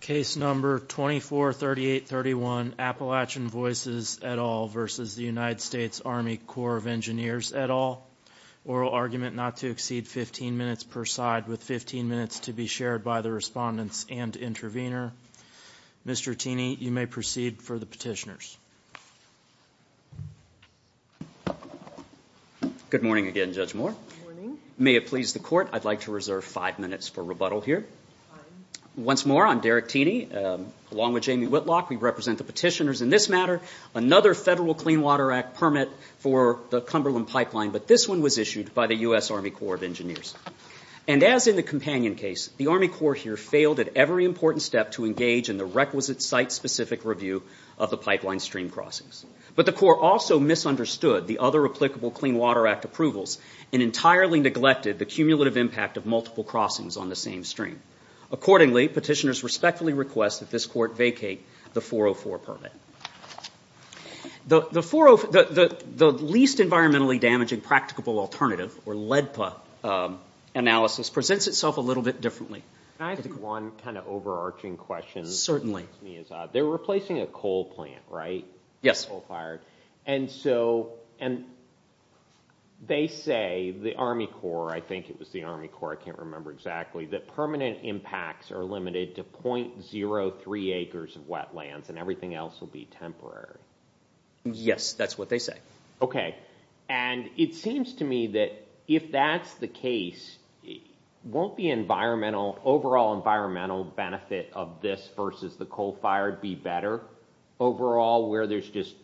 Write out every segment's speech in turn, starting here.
Case No. 243831, Appalachian Voices, et al. v. United States Army Corps of Engineers, et al. Oral argument not to exceed 15 minutes per side, with 15 minutes to be shared by the respondents and intervener. Mr. Tini, you may proceed for the petitioners. Good morning again, Judge Moore. May it please the Court, I'd like to reserve five minutes for rebuttal here. Once more, I'm Derek Tini, along with Jamie Whitlock. We represent the petitioners in this matter. Another Federal Clean Water Act permit for the Cumberland Pipeline, but this one was issued by the US Army Corps of Engineers. And as in the companion case, the Army Corps here failed at every important step to engage in the requisite site-specific review of the pipeline stream crossings. But the Court also misunderstood the other applicable Clean Water Act approvals and entirely neglected the cumulative impact of multiple crossings on the same stream. Accordingly, petitioners respectfully request that this Court vacate the 404 permit. The least environmentally damaging practicable alternative, or LEDPA, analysis presents itself a little bit differently. Can I ask you one kind of overarching question? Certainly. They're replacing a coal plant, right? And so they say, the Army Corps, I think it was the Army Corps, I can't remember exactly, that permanent impacts are limited to .03 acres of wetlands and everything else will be temporary. Yes, that's what they say. Okay. And it seems to me that if that's the case, won't the overall environmental benefit of this versus the coal-fired be better? Overall, where there's just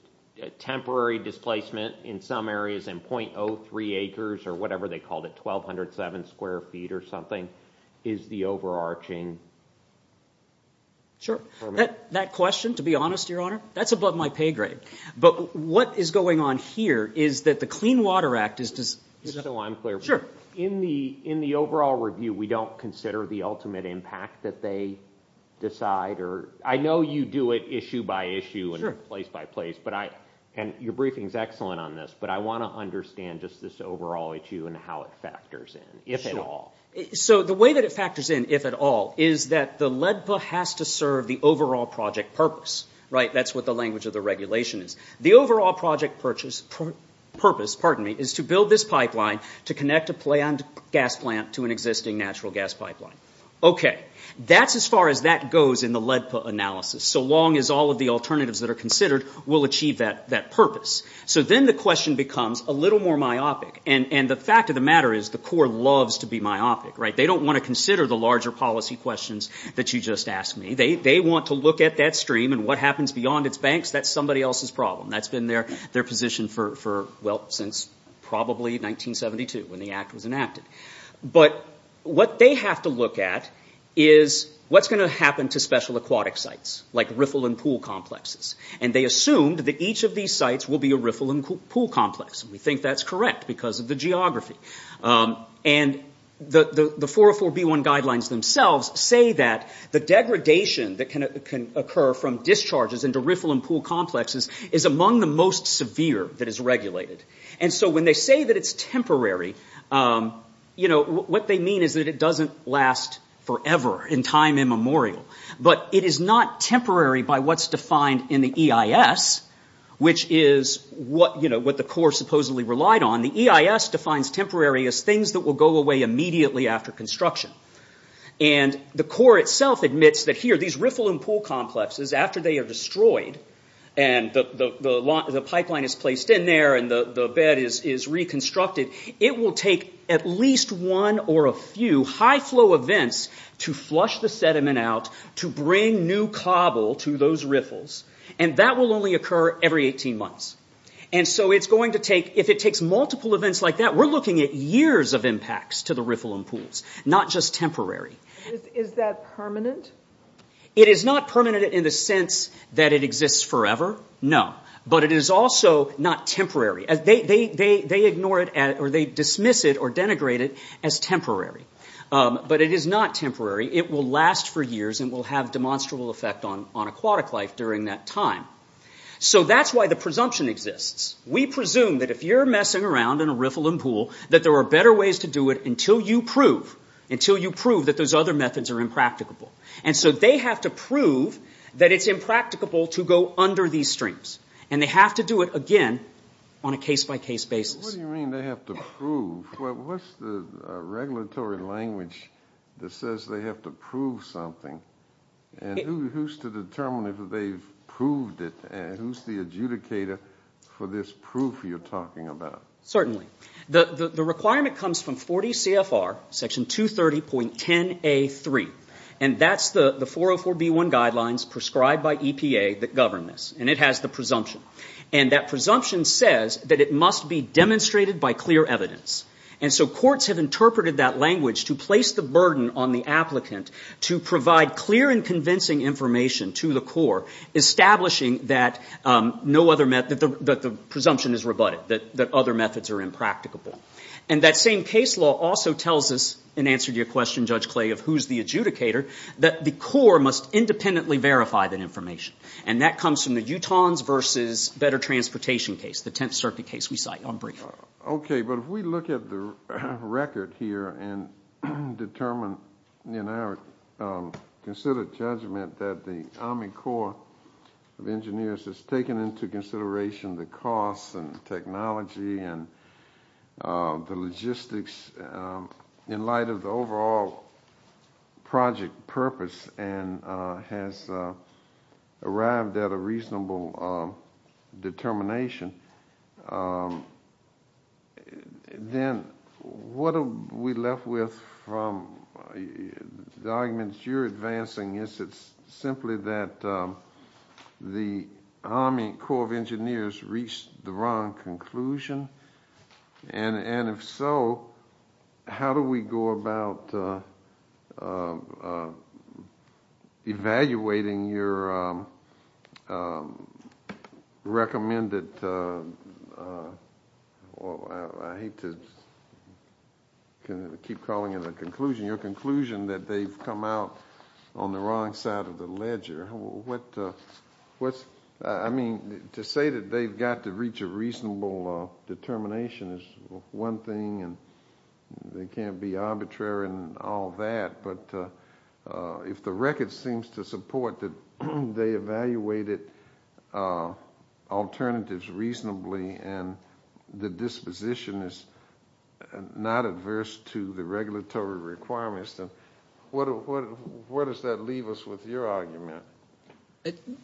temporary displacement in some areas and .03 acres or whatever they called it, 1,207 square feet or something, is the overarching? Sure. That question, to be honest, Your Honor, that's above my pay grade. But what is going on here is that the Clean Water Act is... Just so I'm clear. In the overall review, we don't consider the ultimate impact that they decide? I know you do it issue by issue and place by place, and your briefing is excellent on this, but I want to understand just this overall issue and how it factors in, if at all. So the way that it factors in, if at all, is that the LEDPA has to serve the overall project purpose, right? The overall project purpose is to build this pipeline to connect a planned gas plant to an existing natural gas pipeline. Okay. That's as far as that goes in the LEDPA analysis, so long as all of the alternatives that are considered will achieve that purpose. So then the question becomes a little more myopic. And the fact of the matter is the Corps loves to be myopic, right? They don't want to consider the larger policy questions that you just asked me. They want to look at that stream and what happens beyond its banks. That's somebody else's problem. That's been their position for, well, since probably 1972 when the Act was enacted. But what they have to look at is what's going to happen to special aquatic sites, like riffle and pool complexes? And they assumed that each of these sites will be a riffle and pool complex, and we think that's correct because of the geography. And the 404B1 guidelines themselves say that the degradation that can occur from discharges into riffle and pool complexes is among the most severe that is regulated. And so when they say that it's temporary, what they mean is that it doesn't last forever in time immemorial. But it is not temporary by what's defined in the EIS, which is what the Corps supposedly relied on. The EIS defines temporary as things that will go away immediately after construction. And the Corps itself admits that here, these riffle and pool complexes, after they are destroyed and the pipeline is placed in there and the bed is reconstructed, it will take at least one or a few high-flow events to flush the sediment out to bring new cobble to those riffles. And that will only occur every 18 months. And so if it takes multiple events like that, we're looking at years of impacts to the riffle and pools, not just temporary. Is that permanent? It is not permanent in the sense that it exists forever, no. But it is also not temporary. They ignore it or they dismiss it or denigrate it as temporary. But it is not temporary. It will last for years and will have demonstrable effect on aquatic life during that time. So that's why the presumption exists. We presume that if you're messing around in a riffle and pool, that there are better ways to do it until you prove, until you prove that those other methods are impracticable. And so they have to prove that it's impracticable to go under these streams. And they have to do it again on a case-by-case basis. What do you mean they have to prove? What's the regulatory language that says they have to prove something? And who's to determine if they've proved it? Who's the adjudicator for this proof you're talking about? Certainly. The requirement comes from 40 CFR Section 230.10a.3. And that's the 404b.1 guidelines prescribed by EPA that govern this. And it has the presumption. And that presumption says that it must be demonstrated by clear evidence. And so courts have interpreted that language to place the burden on the applicant to provide clear and convincing information to the court, establishing that no other method, that the presumption is rebutted, that other methods are impracticable. And that same case law also tells us, in answer to your question, Judge Clay, of who's the adjudicator, that the court must independently verify that information. And that comes from the Utahns v. Better Transportation case, the Tenth Circuit case we cite. Okay. But if we look at the record here and determine, in our considered judgment, that the Army Corps of Engineers has taken into consideration the costs and technology and the logistics in light of the overall project purpose and has arrived at a reasonable determination, then what are we left with from the arguments you're advancing? Is it simply that the Army Corps of Engineers reached the wrong conclusion? And if so, how do we go about evaluating your recommended— I hate to keep calling it a conclusion—your conclusion that they've come out on the wrong side of the ledger. I mean, to say that they've got to reach a reasonable determination is one thing, and they can't be arbitrary and all that. But if the record seems to support that they evaluated alternatives reasonably and the disposition is not adverse to the regulatory requirements, then where does that leave us with your argument?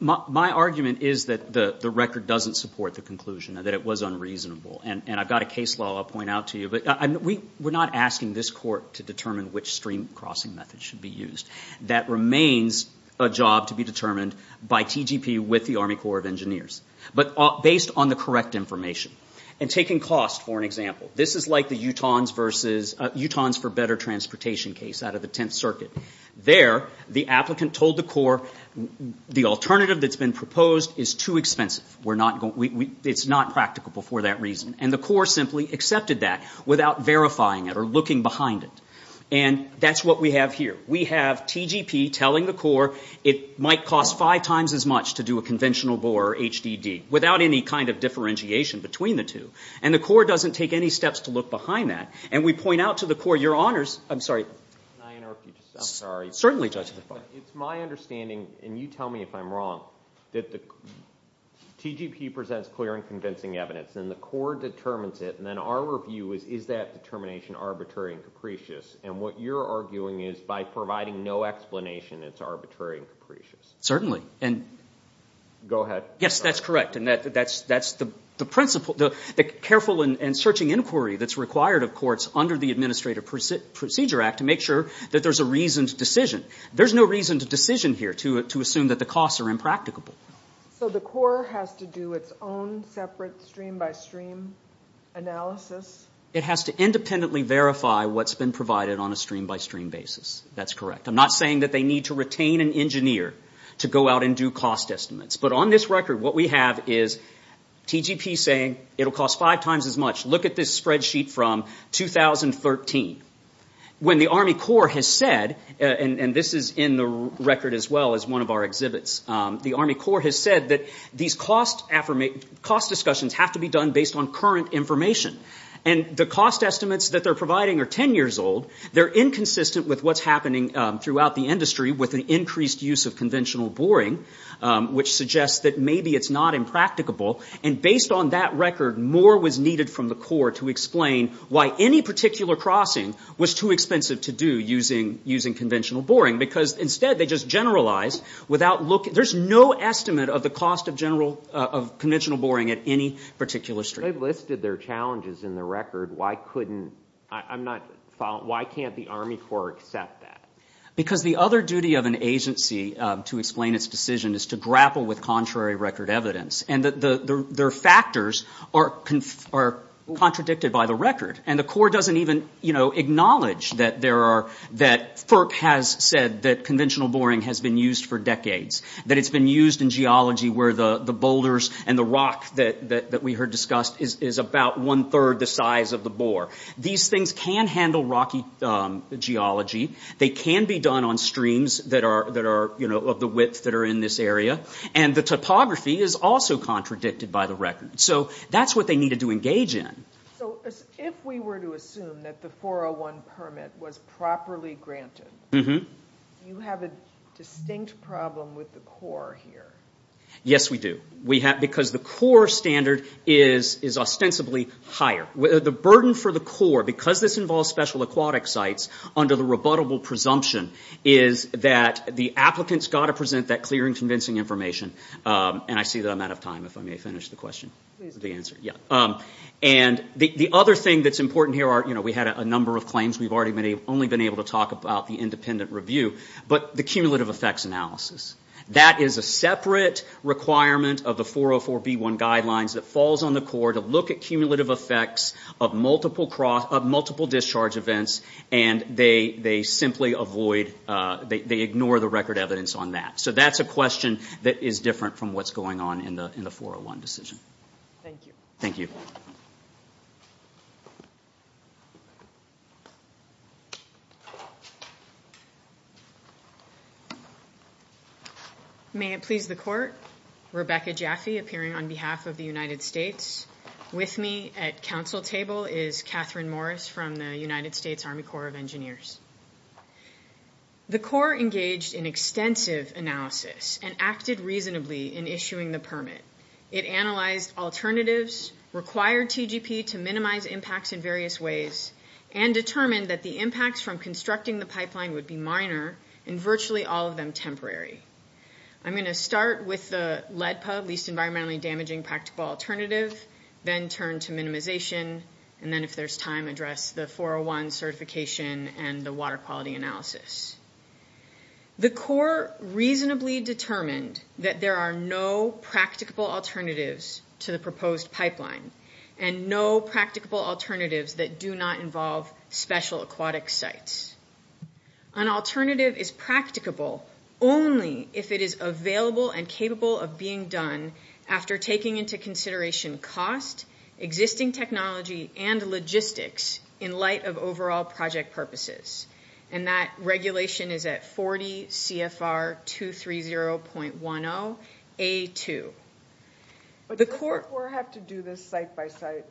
My argument is that the record doesn't support the conclusion, that it was unreasonable. And I've got a case law I'll point out to you. We're not asking this court to determine which stream crossing method should be used. That remains a job to be determined by TGP with the Army Corps of Engineers, but based on the correct information and taking cost for an example. This is like the Utahns for Better Transportation case out of the Tenth Circuit. There, the applicant told the Corps, the alternative that's been proposed is too expensive. It's not practical for that reason. And the Corps simply accepted that without verifying it or looking behind it. And that's what we have here. We have TGP telling the Corps it might cost five times as much to do a conventional bore or HDD, without any kind of differentiation between the two. And the Corps doesn't take any steps to look behind that. And we point out to the Corps, Your Honors. I'm sorry. Can I interrupt you just a second? Certainly, Judge Lafarge. It's my understanding, and you tell me if I'm wrong, that the TGP presents clear and convincing evidence. And the Corps determines it. And then our review is, is that determination arbitrary and capricious? And what you're arguing is, by providing no explanation, it's arbitrary and capricious. Certainly. Go ahead. Yes, that's correct. And that's the careful and searching inquiry that's required, of course, under the Administrative Procedure Act to make sure that there's a reasoned decision. There's no reasoned decision here to assume that the costs are impracticable. So the Corps has to do its own separate stream-by-stream analysis? It has to independently verify what's been provided on a stream-by-stream basis. That's correct. I'm not saying that they need to retain an engineer to go out and do cost estimates. But on this record, what we have is TGP saying it'll cost five times as much. Look at this spreadsheet from 2013. When the Army Corps has said, and this is in the record as well as one of our exhibits, the Army Corps has said that these cost discussions have to be done based on current information. And the cost estimates that they're providing are ten years old. They're inconsistent with what's happening throughout the industry with the increased use of conventional boring, which suggests that maybe it's not impracticable. And based on that record, more was needed from the Corps to explain why any particular crossing was too expensive to do using conventional boring. Because instead they just generalized without looking. There's no estimate of the cost of conventional boring at any particular stream. They've listed their challenges in the record. Why can't the Army Corps accept that? Because the other duty of an agency to explain its decision is to grapple with contrary record evidence. And their factors are contradicted by the record. And the Corps doesn't even acknowledge that FERC has said that conventional boring has been used for decades. That it's been used in geology where the boulders and the rock that we heard discussed is about one-third the size of the bore. These things can handle rocky geology. They can be done on streams that are of the width that are in this area. And the topography is also contradicted by the record. So that's what they needed to engage in. So if we were to assume that the 401 permit was properly granted, do you have a distinct problem with the Corps here? Yes, we do. Because the Corps standard is ostensibly higher. The burden for the Corps, because this involves special aquatic sites under the rebuttable presumption, is that the applicants got to present that clear and convincing information. And I see that I'm out of time if I may finish the question. And the other thing that's important here, we had a number of claims. We've only been able to talk about the independent review. But the cumulative effects analysis. That is a separate requirement of the 404b1 guidelines that falls on the Corps to look at cumulative effects of multiple discharge events. And they simply avoid, they ignore the record evidence on that. So that's a question that is different from what's going on in the 401 decision. Thank you. Thank you. May it please the Court. Rebecca Jaffe, appearing on behalf of the United States. With me at council table is Catherine Morris from the United States Army Corps of Engineers. The Corps engaged in extensive analysis and acted reasonably in issuing the permit. It analyzed alternatives, required TGP to minimize impacts in various ways, and determined that the impacts from constructing the pipeline would be minor and virtually all of them temporary. I'm going to start with the LEDPA, Least Environmentally Damaging Practical Alternative, then turn to minimization, and then if there's time, address the 401 certification and the water quality analysis. The Corps reasonably determined that there are no practicable alternatives to the proposed pipeline and no practicable alternatives that do not involve special aquatic sites. An alternative is practicable only if it is available and capable of being done after taking into consideration cost, existing technology, and logistics in light of overall project purposes. And that regulation is at 40 CFR 230.10A2. But does the Corps have to do this site by site?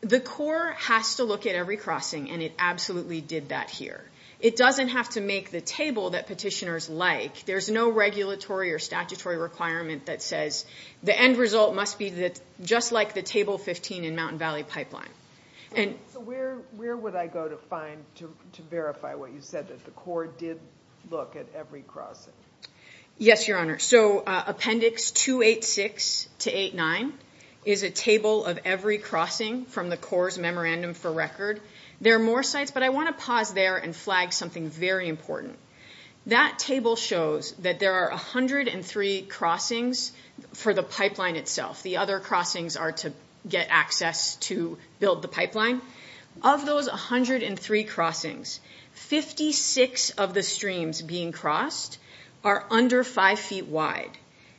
The Corps has to look at every crossing, and it absolutely did that here. It doesn't have to make the table that petitioners like. There's no regulatory or statutory requirement that says the end result must be just like the Table 15 in Mountain Valley Pipeline. So where would I go to find, to verify what you said, that the Corps did look at every crossing? Yes, Your Honor. So Appendix 286-89 is a table of every crossing from the Corps' memorandum for record. There are more sites, but I want to pause there and flag something very important. That table shows that there are 103 crossings for the pipeline itself. The other crossings are to get access to build the pipeline. Of those 103 crossings, 56 of the streams being crossed are under 5 feet wide,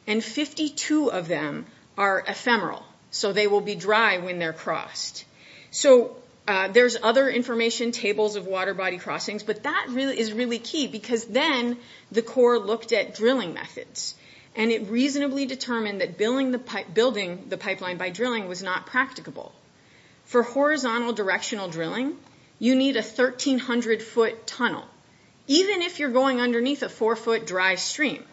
and 52 of them are ephemeral, so they will be dry when they're crossed. So there's other information tables of water body crossings, but that is really key because then the Corps looked at drilling methods, and it reasonably determined that building the pipeline by drilling was not practicable. For horizontal directional drilling, you need a 1,300-foot tunnel, even if you're going underneath a 4-foot dry stream.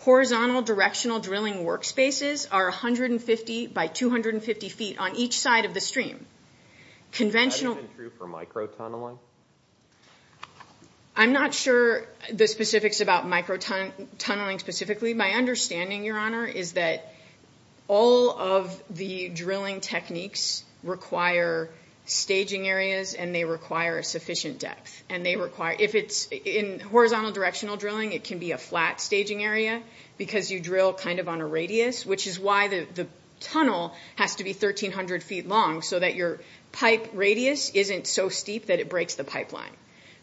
Horizontal directional drilling workspaces are 150 by 250 feet on each side of the stream. That isn't true for microtunneling? I'm not sure the specifics about microtunneling specifically. My understanding, Your Honor, is that all of the drilling techniques require staging areas, and they require sufficient depth. In horizontal directional drilling, it can be a flat staging area because you drill kind of on a radius, which is why the tunnel has to be 1,300 feet long so that your pipe radius isn't so steep that it breaks the pipeline.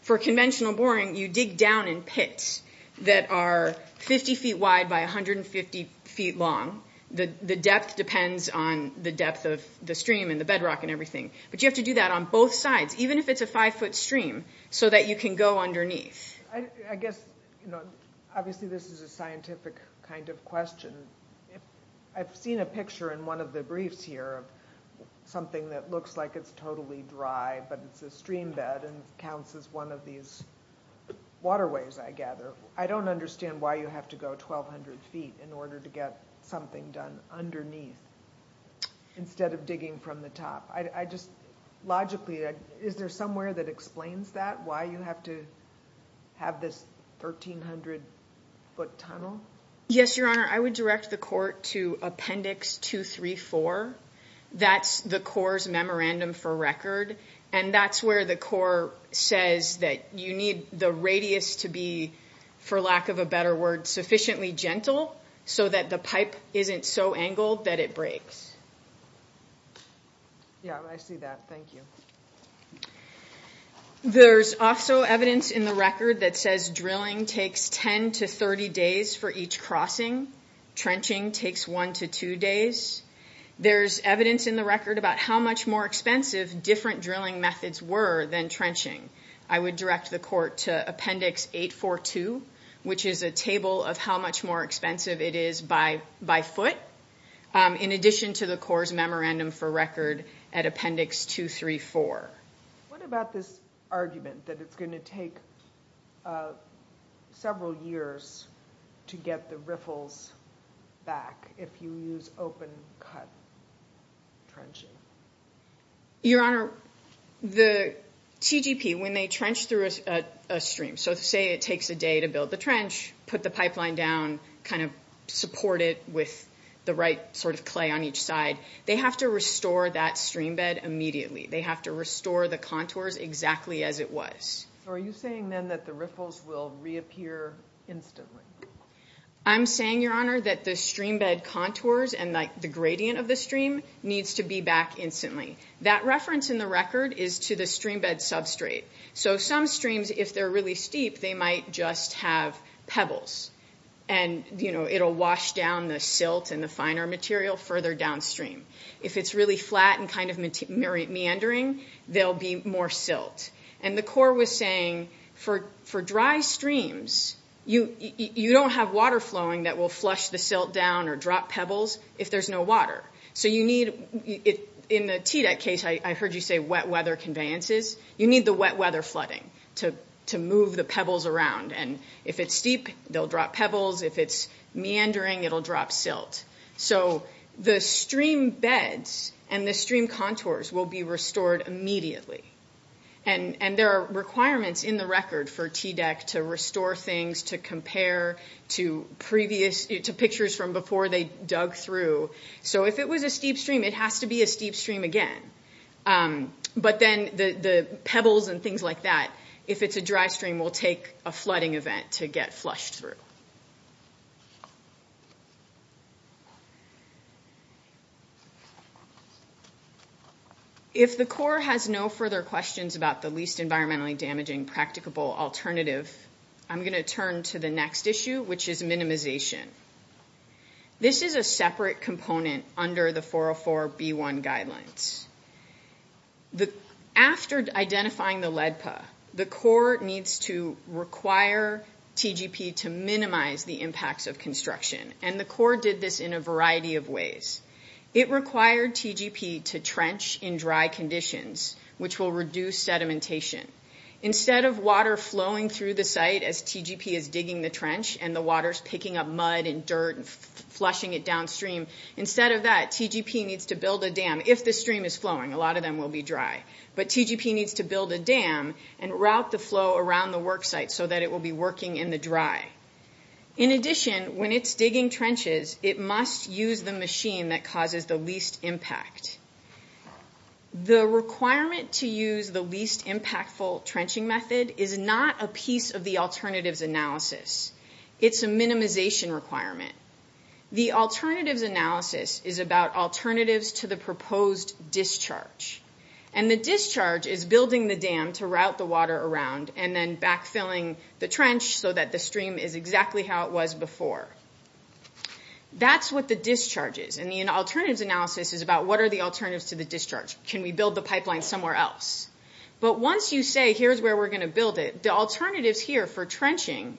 For conventional boring, you dig down in pits that are 50 feet wide by 150 feet long. The depth depends on the depth of the stream and the bedrock and everything, but you have to do that on both sides. Even if it's a 5-foot stream, so that you can go underneath. I guess, you know, obviously this is a scientific kind of question. I've seen a picture in one of the briefs here of something that looks like it's totally dry, but it's a stream bed and counts as one of these waterways, I gather. I don't understand why you have to go 1,200 feet in order to get something done underneath instead of digging from the top. Logically, is there somewhere that explains that, why you have to have this 1,300-foot tunnel? Yes, Your Honor. I would direct the court to Appendix 234. That's the Corps' memorandum for record, and that's where the Corps says that you need the radius to be, for lack of a better word, sufficiently gentle so that the pipe isn't so angled that it breaks. Yeah, I see that. Thank you. There's also evidence in the record that says drilling takes 10 to 30 days for each crossing. Trenching takes one to two days. There's evidence in the record about how much more expensive different drilling methods were than trenching. I would direct the court to Appendix 842, which is a table of how much more expensive it is by foot, in addition to the Corps' memorandum for record at Appendix 234. What about this argument that it's going to take several years to get the riffles back if you use open-cut trenching? Your Honor, the CGP, when they trench through a stream, so say it takes a day to build the trench, put the pipeline down, kind of support it with the right sort of clay on each side, they have to restore that streambed immediately. They have to restore the contours exactly as it was. Are you saying then that the riffles will reappear instantly? I'm saying, Your Honor, that the streambed contours and the gradient of the stream needs to be back instantly. That reference in the record is to the streambed substrate. Some streams, if they're really steep, they might just have pebbles, and it'll wash down the silt and the finer material further downstream. If it's really flat and kind of meandering, there'll be more silt. The Corps was saying for dry streams, you don't have water flowing that will flush the silt down or drop pebbles if there's no water. In the TDEC case, I heard you say wet weather conveyances. You need the wet weather flooding to move the pebbles around, and if it's steep, they'll drop pebbles. If it's meandering, it'll drop silt. So the streambeds and the stream contours will be restored immediately, and there are requirements in the record for TDEC to restore things, to compare to pictures from before they dug through. So if it was a steep stream, it has to be a steep stream again. But then the pebbles and things like that, if it's a dry stream, will take a flooding event to get flushed through. If the Corps has no further questions about the least environmentally damaging practicable alternative, I'm going to turn to the next issue, which is minimization. This is a separate component under the 404b1 guidelines. After identifying the LEDPA, the Corps needs to require TGP to minimize the impacts of construction, and the Corps did this in a variety of ways. It required TGP to trench in dry conditions, which will reduce sedimentation. Instead of water flowing through the site as TGP is digging the trench, and the water's picking up mud and dirt and flushing it downstream, instead of that, TGP needs to build a dam. If the stream is flowing, a lot of them will be dry. But TGP needs to build a dam and route the flow around the worksite so that it will be working in the dry. In addition, when it's digging trenches, it must use the machine that causes the least impact. The requirement to use the least impactful trenching method is not a piece of the alternatives analysis. It's a minimization requirement. The alternatives analysis is about alternatives to the proposed discharge, and the discharge is building the dam to route the water around and then backfilling the trench so that the stream is exactly how it was before. That's what the discharge is. And the alternatives analysis is about what are the alternatives to the discharge. Can we build the pipeline somewhere else? But once you say, here's where we're going to build it, the alternatives here for trenching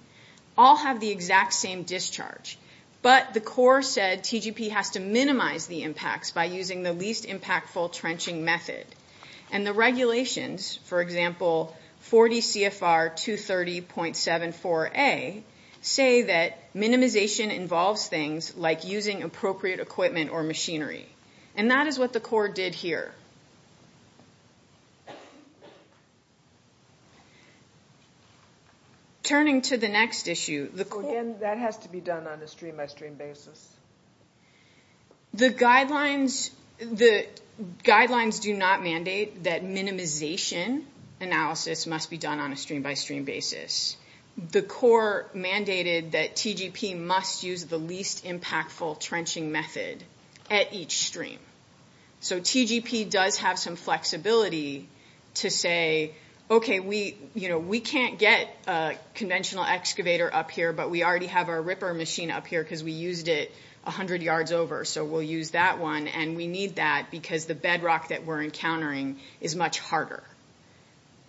all have the exact same discharge. But the core said TGP has to minimize the impacts by using the least impactful trenching method. And the regulations, for example, 40 CFR 230.74a, say that minimization involves things like using appropriate equipment or machinery. And that is what the core did here. Turning to the next issue, the core... Again, that has to be done on a stream-by-stream basis. The guidelines do not mandate that minimization analysis must be done on a stream-by-stream basis. The core mandated that TGP must use the least impactful trenching method at each stream. So TGP does have some flexibility to say, okay, we can't get a conventional excavator up here, but we already have our ripper machine up here because we used it 100 yards over, so we'll use that one, and we need that because the bedrock that we're encountering is much harder.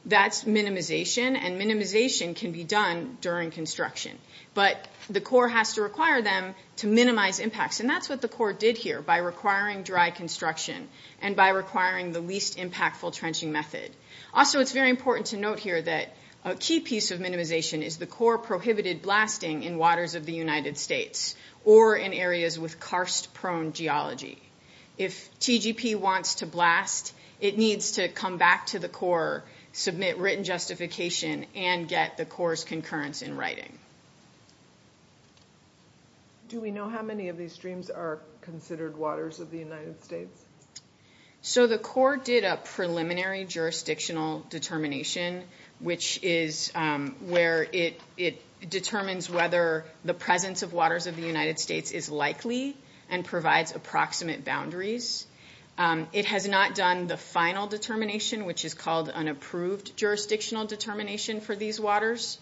That's minimization, and minimization can be done during construction. But the core has to require them to minimize impacts, and that's what the core did here by requiring dry construction and by requiring the least impactful trenching method. Also, it's very important to note here that a key piece of minimization is the core prohibited blasting in waters of the United States or in areas with karst-prone geology. If TGP wants to blast, it needs to come back to the core, submit written justification, and get the core's concurrence in writing. Do we know how many of these streams are considered waters of the United States? So the core did a preliminary jurisdictional determination, which is where it determines whether the presence of waters of the United States is likely and provides approximate boundaries. It has not done the final determination, which is called an approved jurisdictional determination for these waters.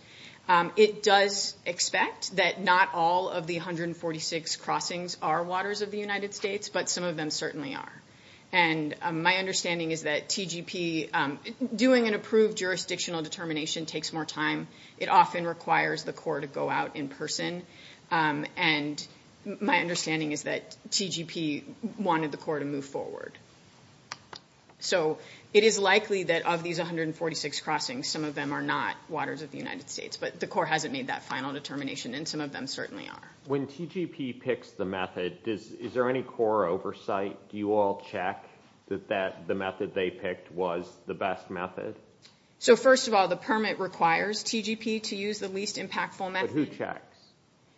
It does expect that not all of the 146 crossings are waters of the United States, but some of them certainly are. And my understanding is that TGP doing an approved jurisdictional determination takes more time. It often requires the core to go out in person, and my understanding is that TGP wanted the core to move forward. So it is likely that of these 146 crossings, some of them are not waters of the United States, but the core hasn't made that final determination, and some of them certainly are. When TGP picks the method, is there any core oversight? Do you all check that the method they picked was the best method? So first of all, the permit requires TGP to use the least impactful method. But who checks?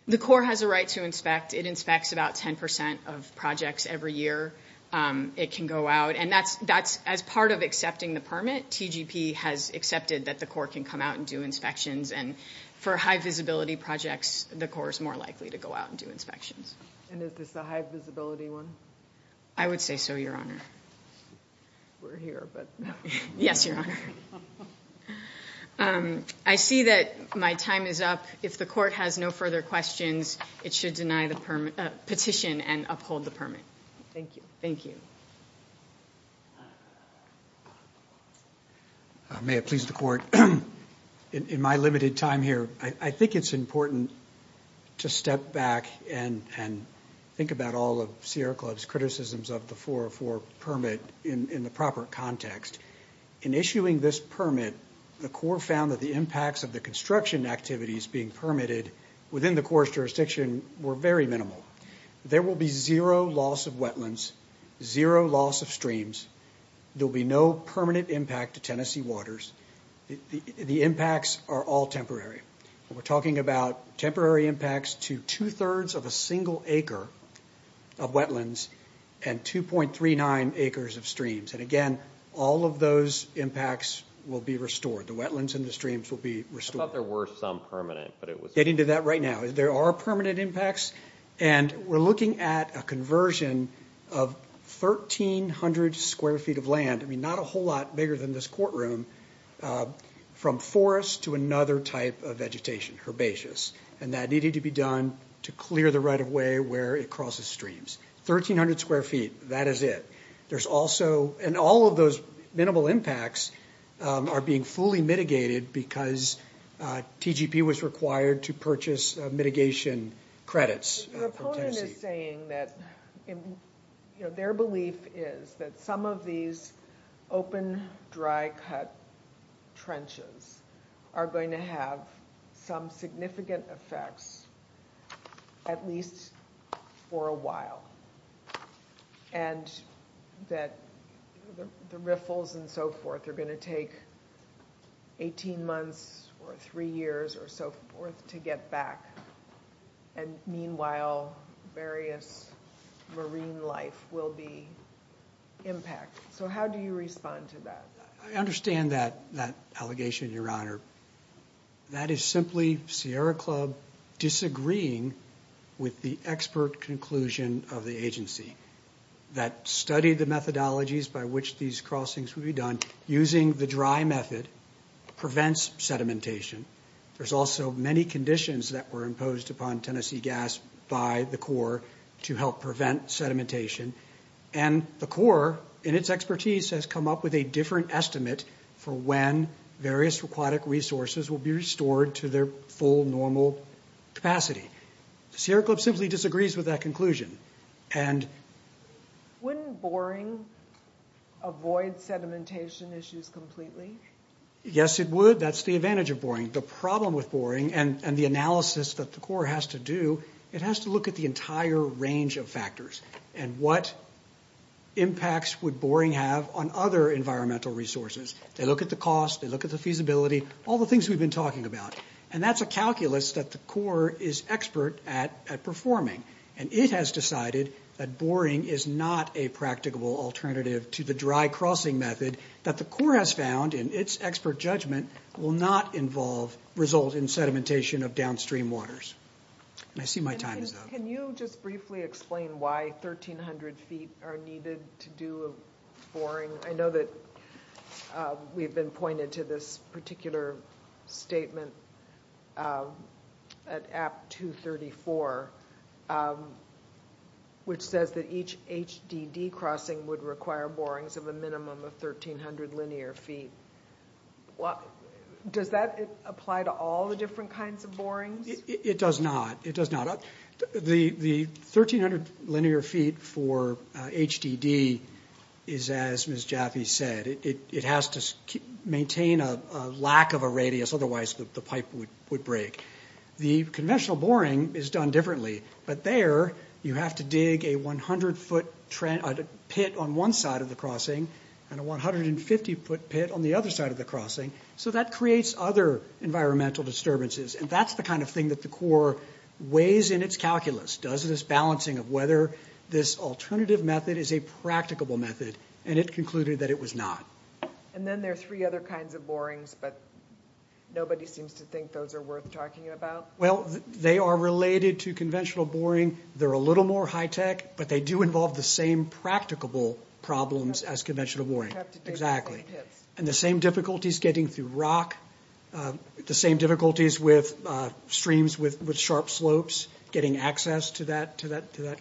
The core has a right to inspect. It inspects about 10 percent of projects every year. It can go out, and that's as part of accepting the permit. TGP has accepted that the core can come out and do inspections, and for high-visibility projects, the core is more likely to go out and do inspections. And is this a high-visibility one? I would say so, Your Honor. We're here, but no. Yes, Your Honor. I see that my time is up. If the Court has no further questions, it should deny the petition and uphold the permit. Thank you. Thank you. May it please the Court, in my limited time here, I think it's important to step back and think about all of Sierra Club's criticisms of the 404 permit in the proper context. In issuing this permit, the core found that the impacts of the construction activities being permitted within the core's jurisdiction were very minimal. There will be zero loss of wetlands, zero loss of streams. There will be no permanent impact to Tennessee waters. The impacts are all temporary. We're talking about temporary impacts to two-thirds of a single acre of wetlands and 2.39 acres of streams. And again, all of those impacts will be restored. The wetlands and the streams will be restored. I thought there were some permanent, but it was not. Getting to that right now. There are permanent impacts, and we're looking at a conversion of 1,300 square feet of land, not a whole lot bigger than this courtroom, from forest to another type of vegetation, herbaceous. And that needed to be done to clear the right-of-way where it crosses streams. 1,300 square feet, that is it. And all of those minimal impacts are being fully mitigated because TGP was required to purchase mitigation credits from Tennessee. Their belief is that some of these open, dry-cut trenches are going to have some significant effects at least for a while. And that the riffles and so forth are going to take 18 months or three years or so forth to get back. And meanwhile, various marine life will be impacted. So how do you respond to that? I understand that allegation, Your Honor. That is simply Sierra Club disagreeing with the expert conclusion of the agency that studied the methodologies by which these crossings would be done. Using the dry method prevents sedimentation. There's also many conditions that were imposed upon Tennessee Gas by the Corps to help prevent sedimentation. And the Corps, in its expertise, has come up with a different estimate for when various aquatic resources will be restored to their full normal capacity. Sierra Club simply disagrees with that conclusion. Wouldn't boring avoid sedimentation issues completely? Yes, it would. That's the advantage of boring. The problem with boring and the analysis that the Corps has to do, it has to look at the entire range of factors and what impacts would boring have on other environmental resources. They look at the cost, they look at the feasibility, all the things we've been talking about. And that's a calculus that the Corps is expert at performing. And it has decided that boring is not a practicable alternative to the dry-crossing method that the Corps has found, and its expert judgment will not result in sedimentation of downstream waters. And I see my time is up. Can you just briefly explain why 1,300 feet are needed to do a boring? I know that we've been pointed to this particular statement at App 234, which says that each HDD crossing would require borings of a minimum of 1,300 linear feet. Does that apply to all the different kinds of borings? It does not. It does not. The 1,300 linear feet for HDD is, as Ms. Jaffe said, it has to maintain a lack of a radius, otherwise the pipe would break. The conventional boring is done differently, but there you have to dig a 100-foot pit on one side of the crossing and a 150-foot pit on the other side of the crossing, so that creates other environmental disturbances. And that's the kind of thing that the Corps weighs in its calculus, does this balancing of whether this alternative method is a practicable method, and it concluded that it was not. And then there are three other kinds of borings, but nobody seems to think those are worth talking about. Well, they are related to conventional boring. They're a little more high-tech, but they do involve the same practicable problems as conventional boring. Exactly. And the same difficulties getting through rock, the same difficulties with streams with sharp slopes, getting access to that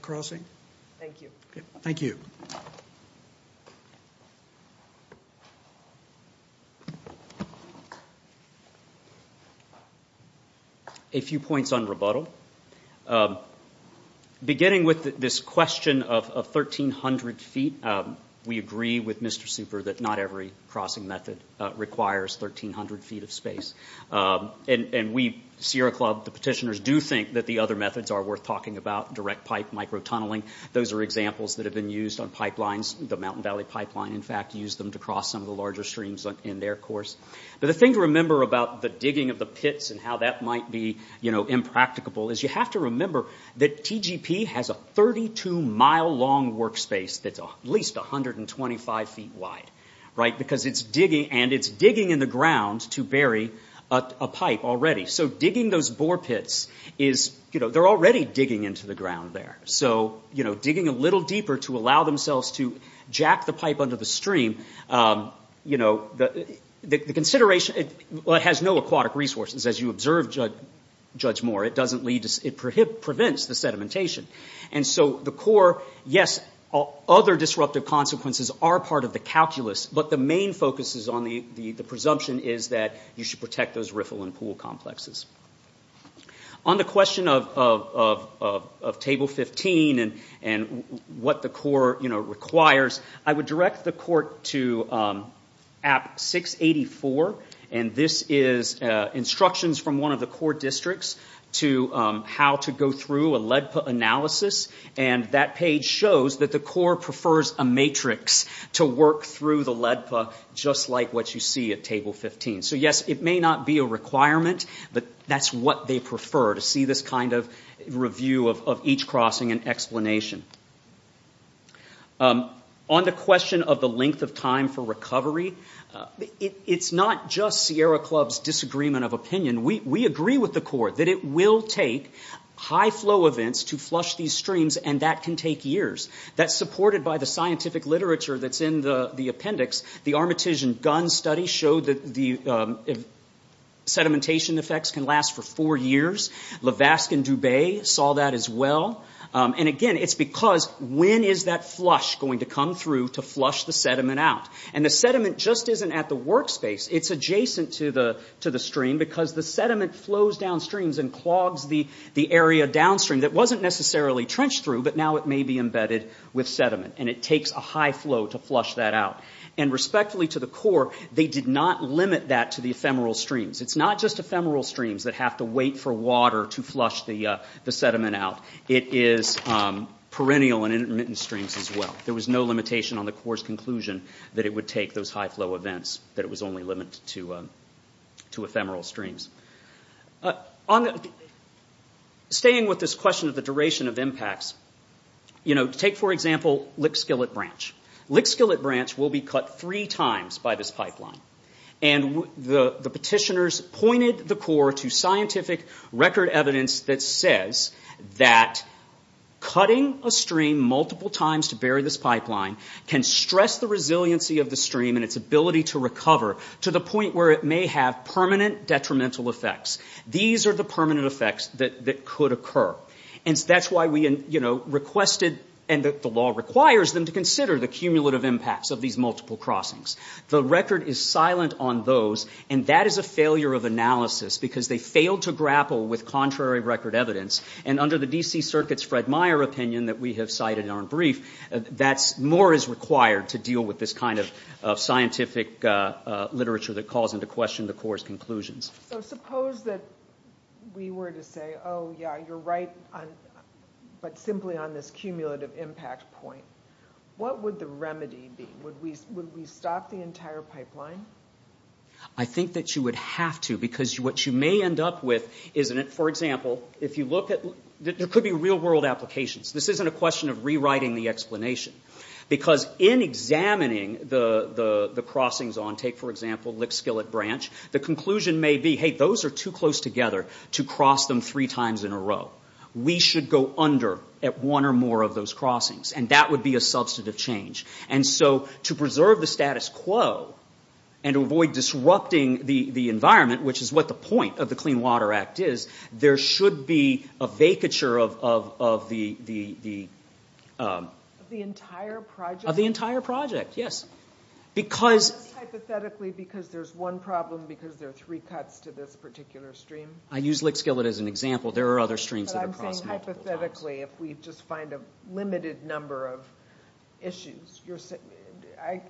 crossing. Thank you. Thank you. A few points on rebuttal. Beginning with this question of 1,300 feet, we agree with Mr. Super that not every crossing method requires 1,300 feet of space. And we, Sierra Club, the petitioners, do think that the other methods are worth talking about, direct pipe, microtunneling. Those are examples that have been used on pipelines. The Mountain Valley Pipeline, in fact, used them to cross some of the larger streams in their course. But the thing to remember about the digging of the pits and how that might be impracticable is you have to remember that TGP has a 32-mile-long workspace that's at least 125 feet wide, and it's digging in the ground to bury a pipe already. So digging those bore pits, they're already digging into the ground there. So digging a little deeper to allow themselves to jack the pipe under the stream, the consideration has no aquatic resources. As you observed, Judge Moore, it prevents the sedimentation. And so the core, yes, other disruptive consequences are part of the calculus, but the main focus is on the presumption is that you should protect those riffle and pool complexes. On the question of Table 15 and what the core requires, I would direct the court to App 684, and this is instructions from one of the core districts to how to go through a LEDPA analysis, and that page shows that the core prefers a matrix to work through the LEDPA just like what you see at Table 15. So yes, it may not be a requirement, but that's what they prefer, to see this kind of review of each crossing and explanation. On the question of the length of time for recovery, it's not just Sierra Club's disagreement of opinion. We agree with the core that it will take high-flow events to flush these streams, and that can take years. That's supported by the scientific literature that's in the appendix. The Armitagian-Gunn study showed that the sedimentation effects can last for four years. Levaskin-Dubé saw that as well. And again, it's because when is that flush going to come through to flush the sediment out? And the sediment just isn't at the workspace. It's adjacent to the stream because the sediment flows downstream and clogs the area downstream that wasn't necessarily trenched through, but now it may be embedded with sediment, and it takes a high flow to flush that out. And respectfully to the core, they did not limit that to the ephemeral streams. It's not just ephemeral streams that have to wait for water to flush the sediment out. It is perennial and intermittent streams as well. There was no limitation on the core's conclusion that it would take those high-flow events, that it was only limited to ephemeral streams. Staying with this question of the duration of impacts, take, for example, Lickskillet Branch. Lickskillet Branch will be cut three times by this pipeline. And the petitioners pointed the core to scientific record evidence that says that cutting a stream multiple times to bury this pipeline can stress the resiliency of the stream and its ability to recover to the point where it may have permanent detrimental effects. These are the permanent effects that could occur. And that's why we requested, and the law requires them to consider, the cumulative impacts of these multiple crossings. The record is silent on those, and that is a failure of analysis because they failed to grapple with contrary record evidence. And under the D.C. Circuit's Fred Meyer opinion that we have cited in our brief, more is required to deal with this kind of scientific literature that calls into question the core's conclusions. So suppose that we were to say, oh, yeah, you're right, but simply on this cumulative impact point. What would the remedy be? Would we stop the entire pipeline? I think that you would have to because what you may end up with is... For example, if you look at... There could be real-world applications. This isn't a question of rewriting the explanation. Because in examining the crossings on, take, for example, Lickskillet Branch, the conclusion may be, hey, those are too close together to cross them three times in a row. We should go under at one or more of those crossings, and that would be a substantive change. And so to preserve the status quo and to avoid disrupting the environment, which is what the point of the Clean Water Act is, there should be a vacature of the... Of the entire project? Of the entire project, yes. Not just hypothetically because there's one problem, because there are three cuts to this particular stream? I use Lickskillet as an example. There are other streams that are crossed multiple times. if we just find a limited number of issues...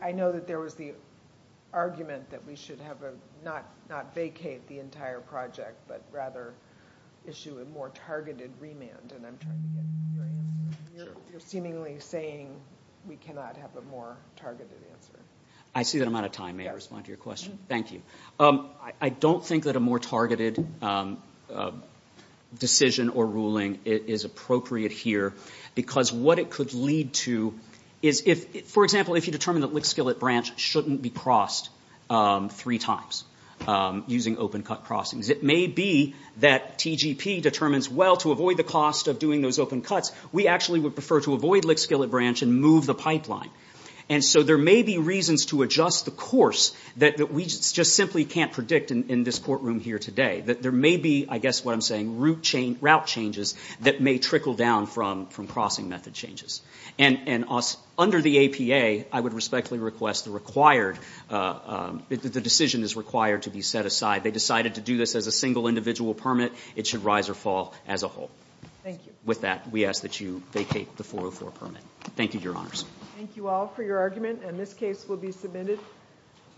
I know that there was the argument that we should not vacate the entire project, but rather issue a more targeted remand, and I'm trying to get your answer. You're seemingly saying we cannot have a more targeted answer. I see that I'm out of time. May I respond to your question? Thank you. I don't think that a more targeted decision or ruling is appropriate here, because what it could lead to is if... For example, if you determine that Lickskillet Branch shouldn't be crossed three times using open-cut crossings, it may be that TGP determines, well, to avoid the cost of doing those open cuts, we actually would prefer to avoid Lickskillet Branch and move the pipeline. And so there may be reasons to adjust the course that we just simply can't predict in this courtroom here today. There may be, I guess what I'm saying, route changes that may trickle down from crossing method changes. And under the APA, I would respectfully request the required... that the decision is required to be set aside. They decided to do this as a single individual permit. It should rise or fall as a whole. Thank you. With that, we ask that you vacate the 404 permit. Thank you, Your Honors. Thank you all for your argument, and this case will be submitted.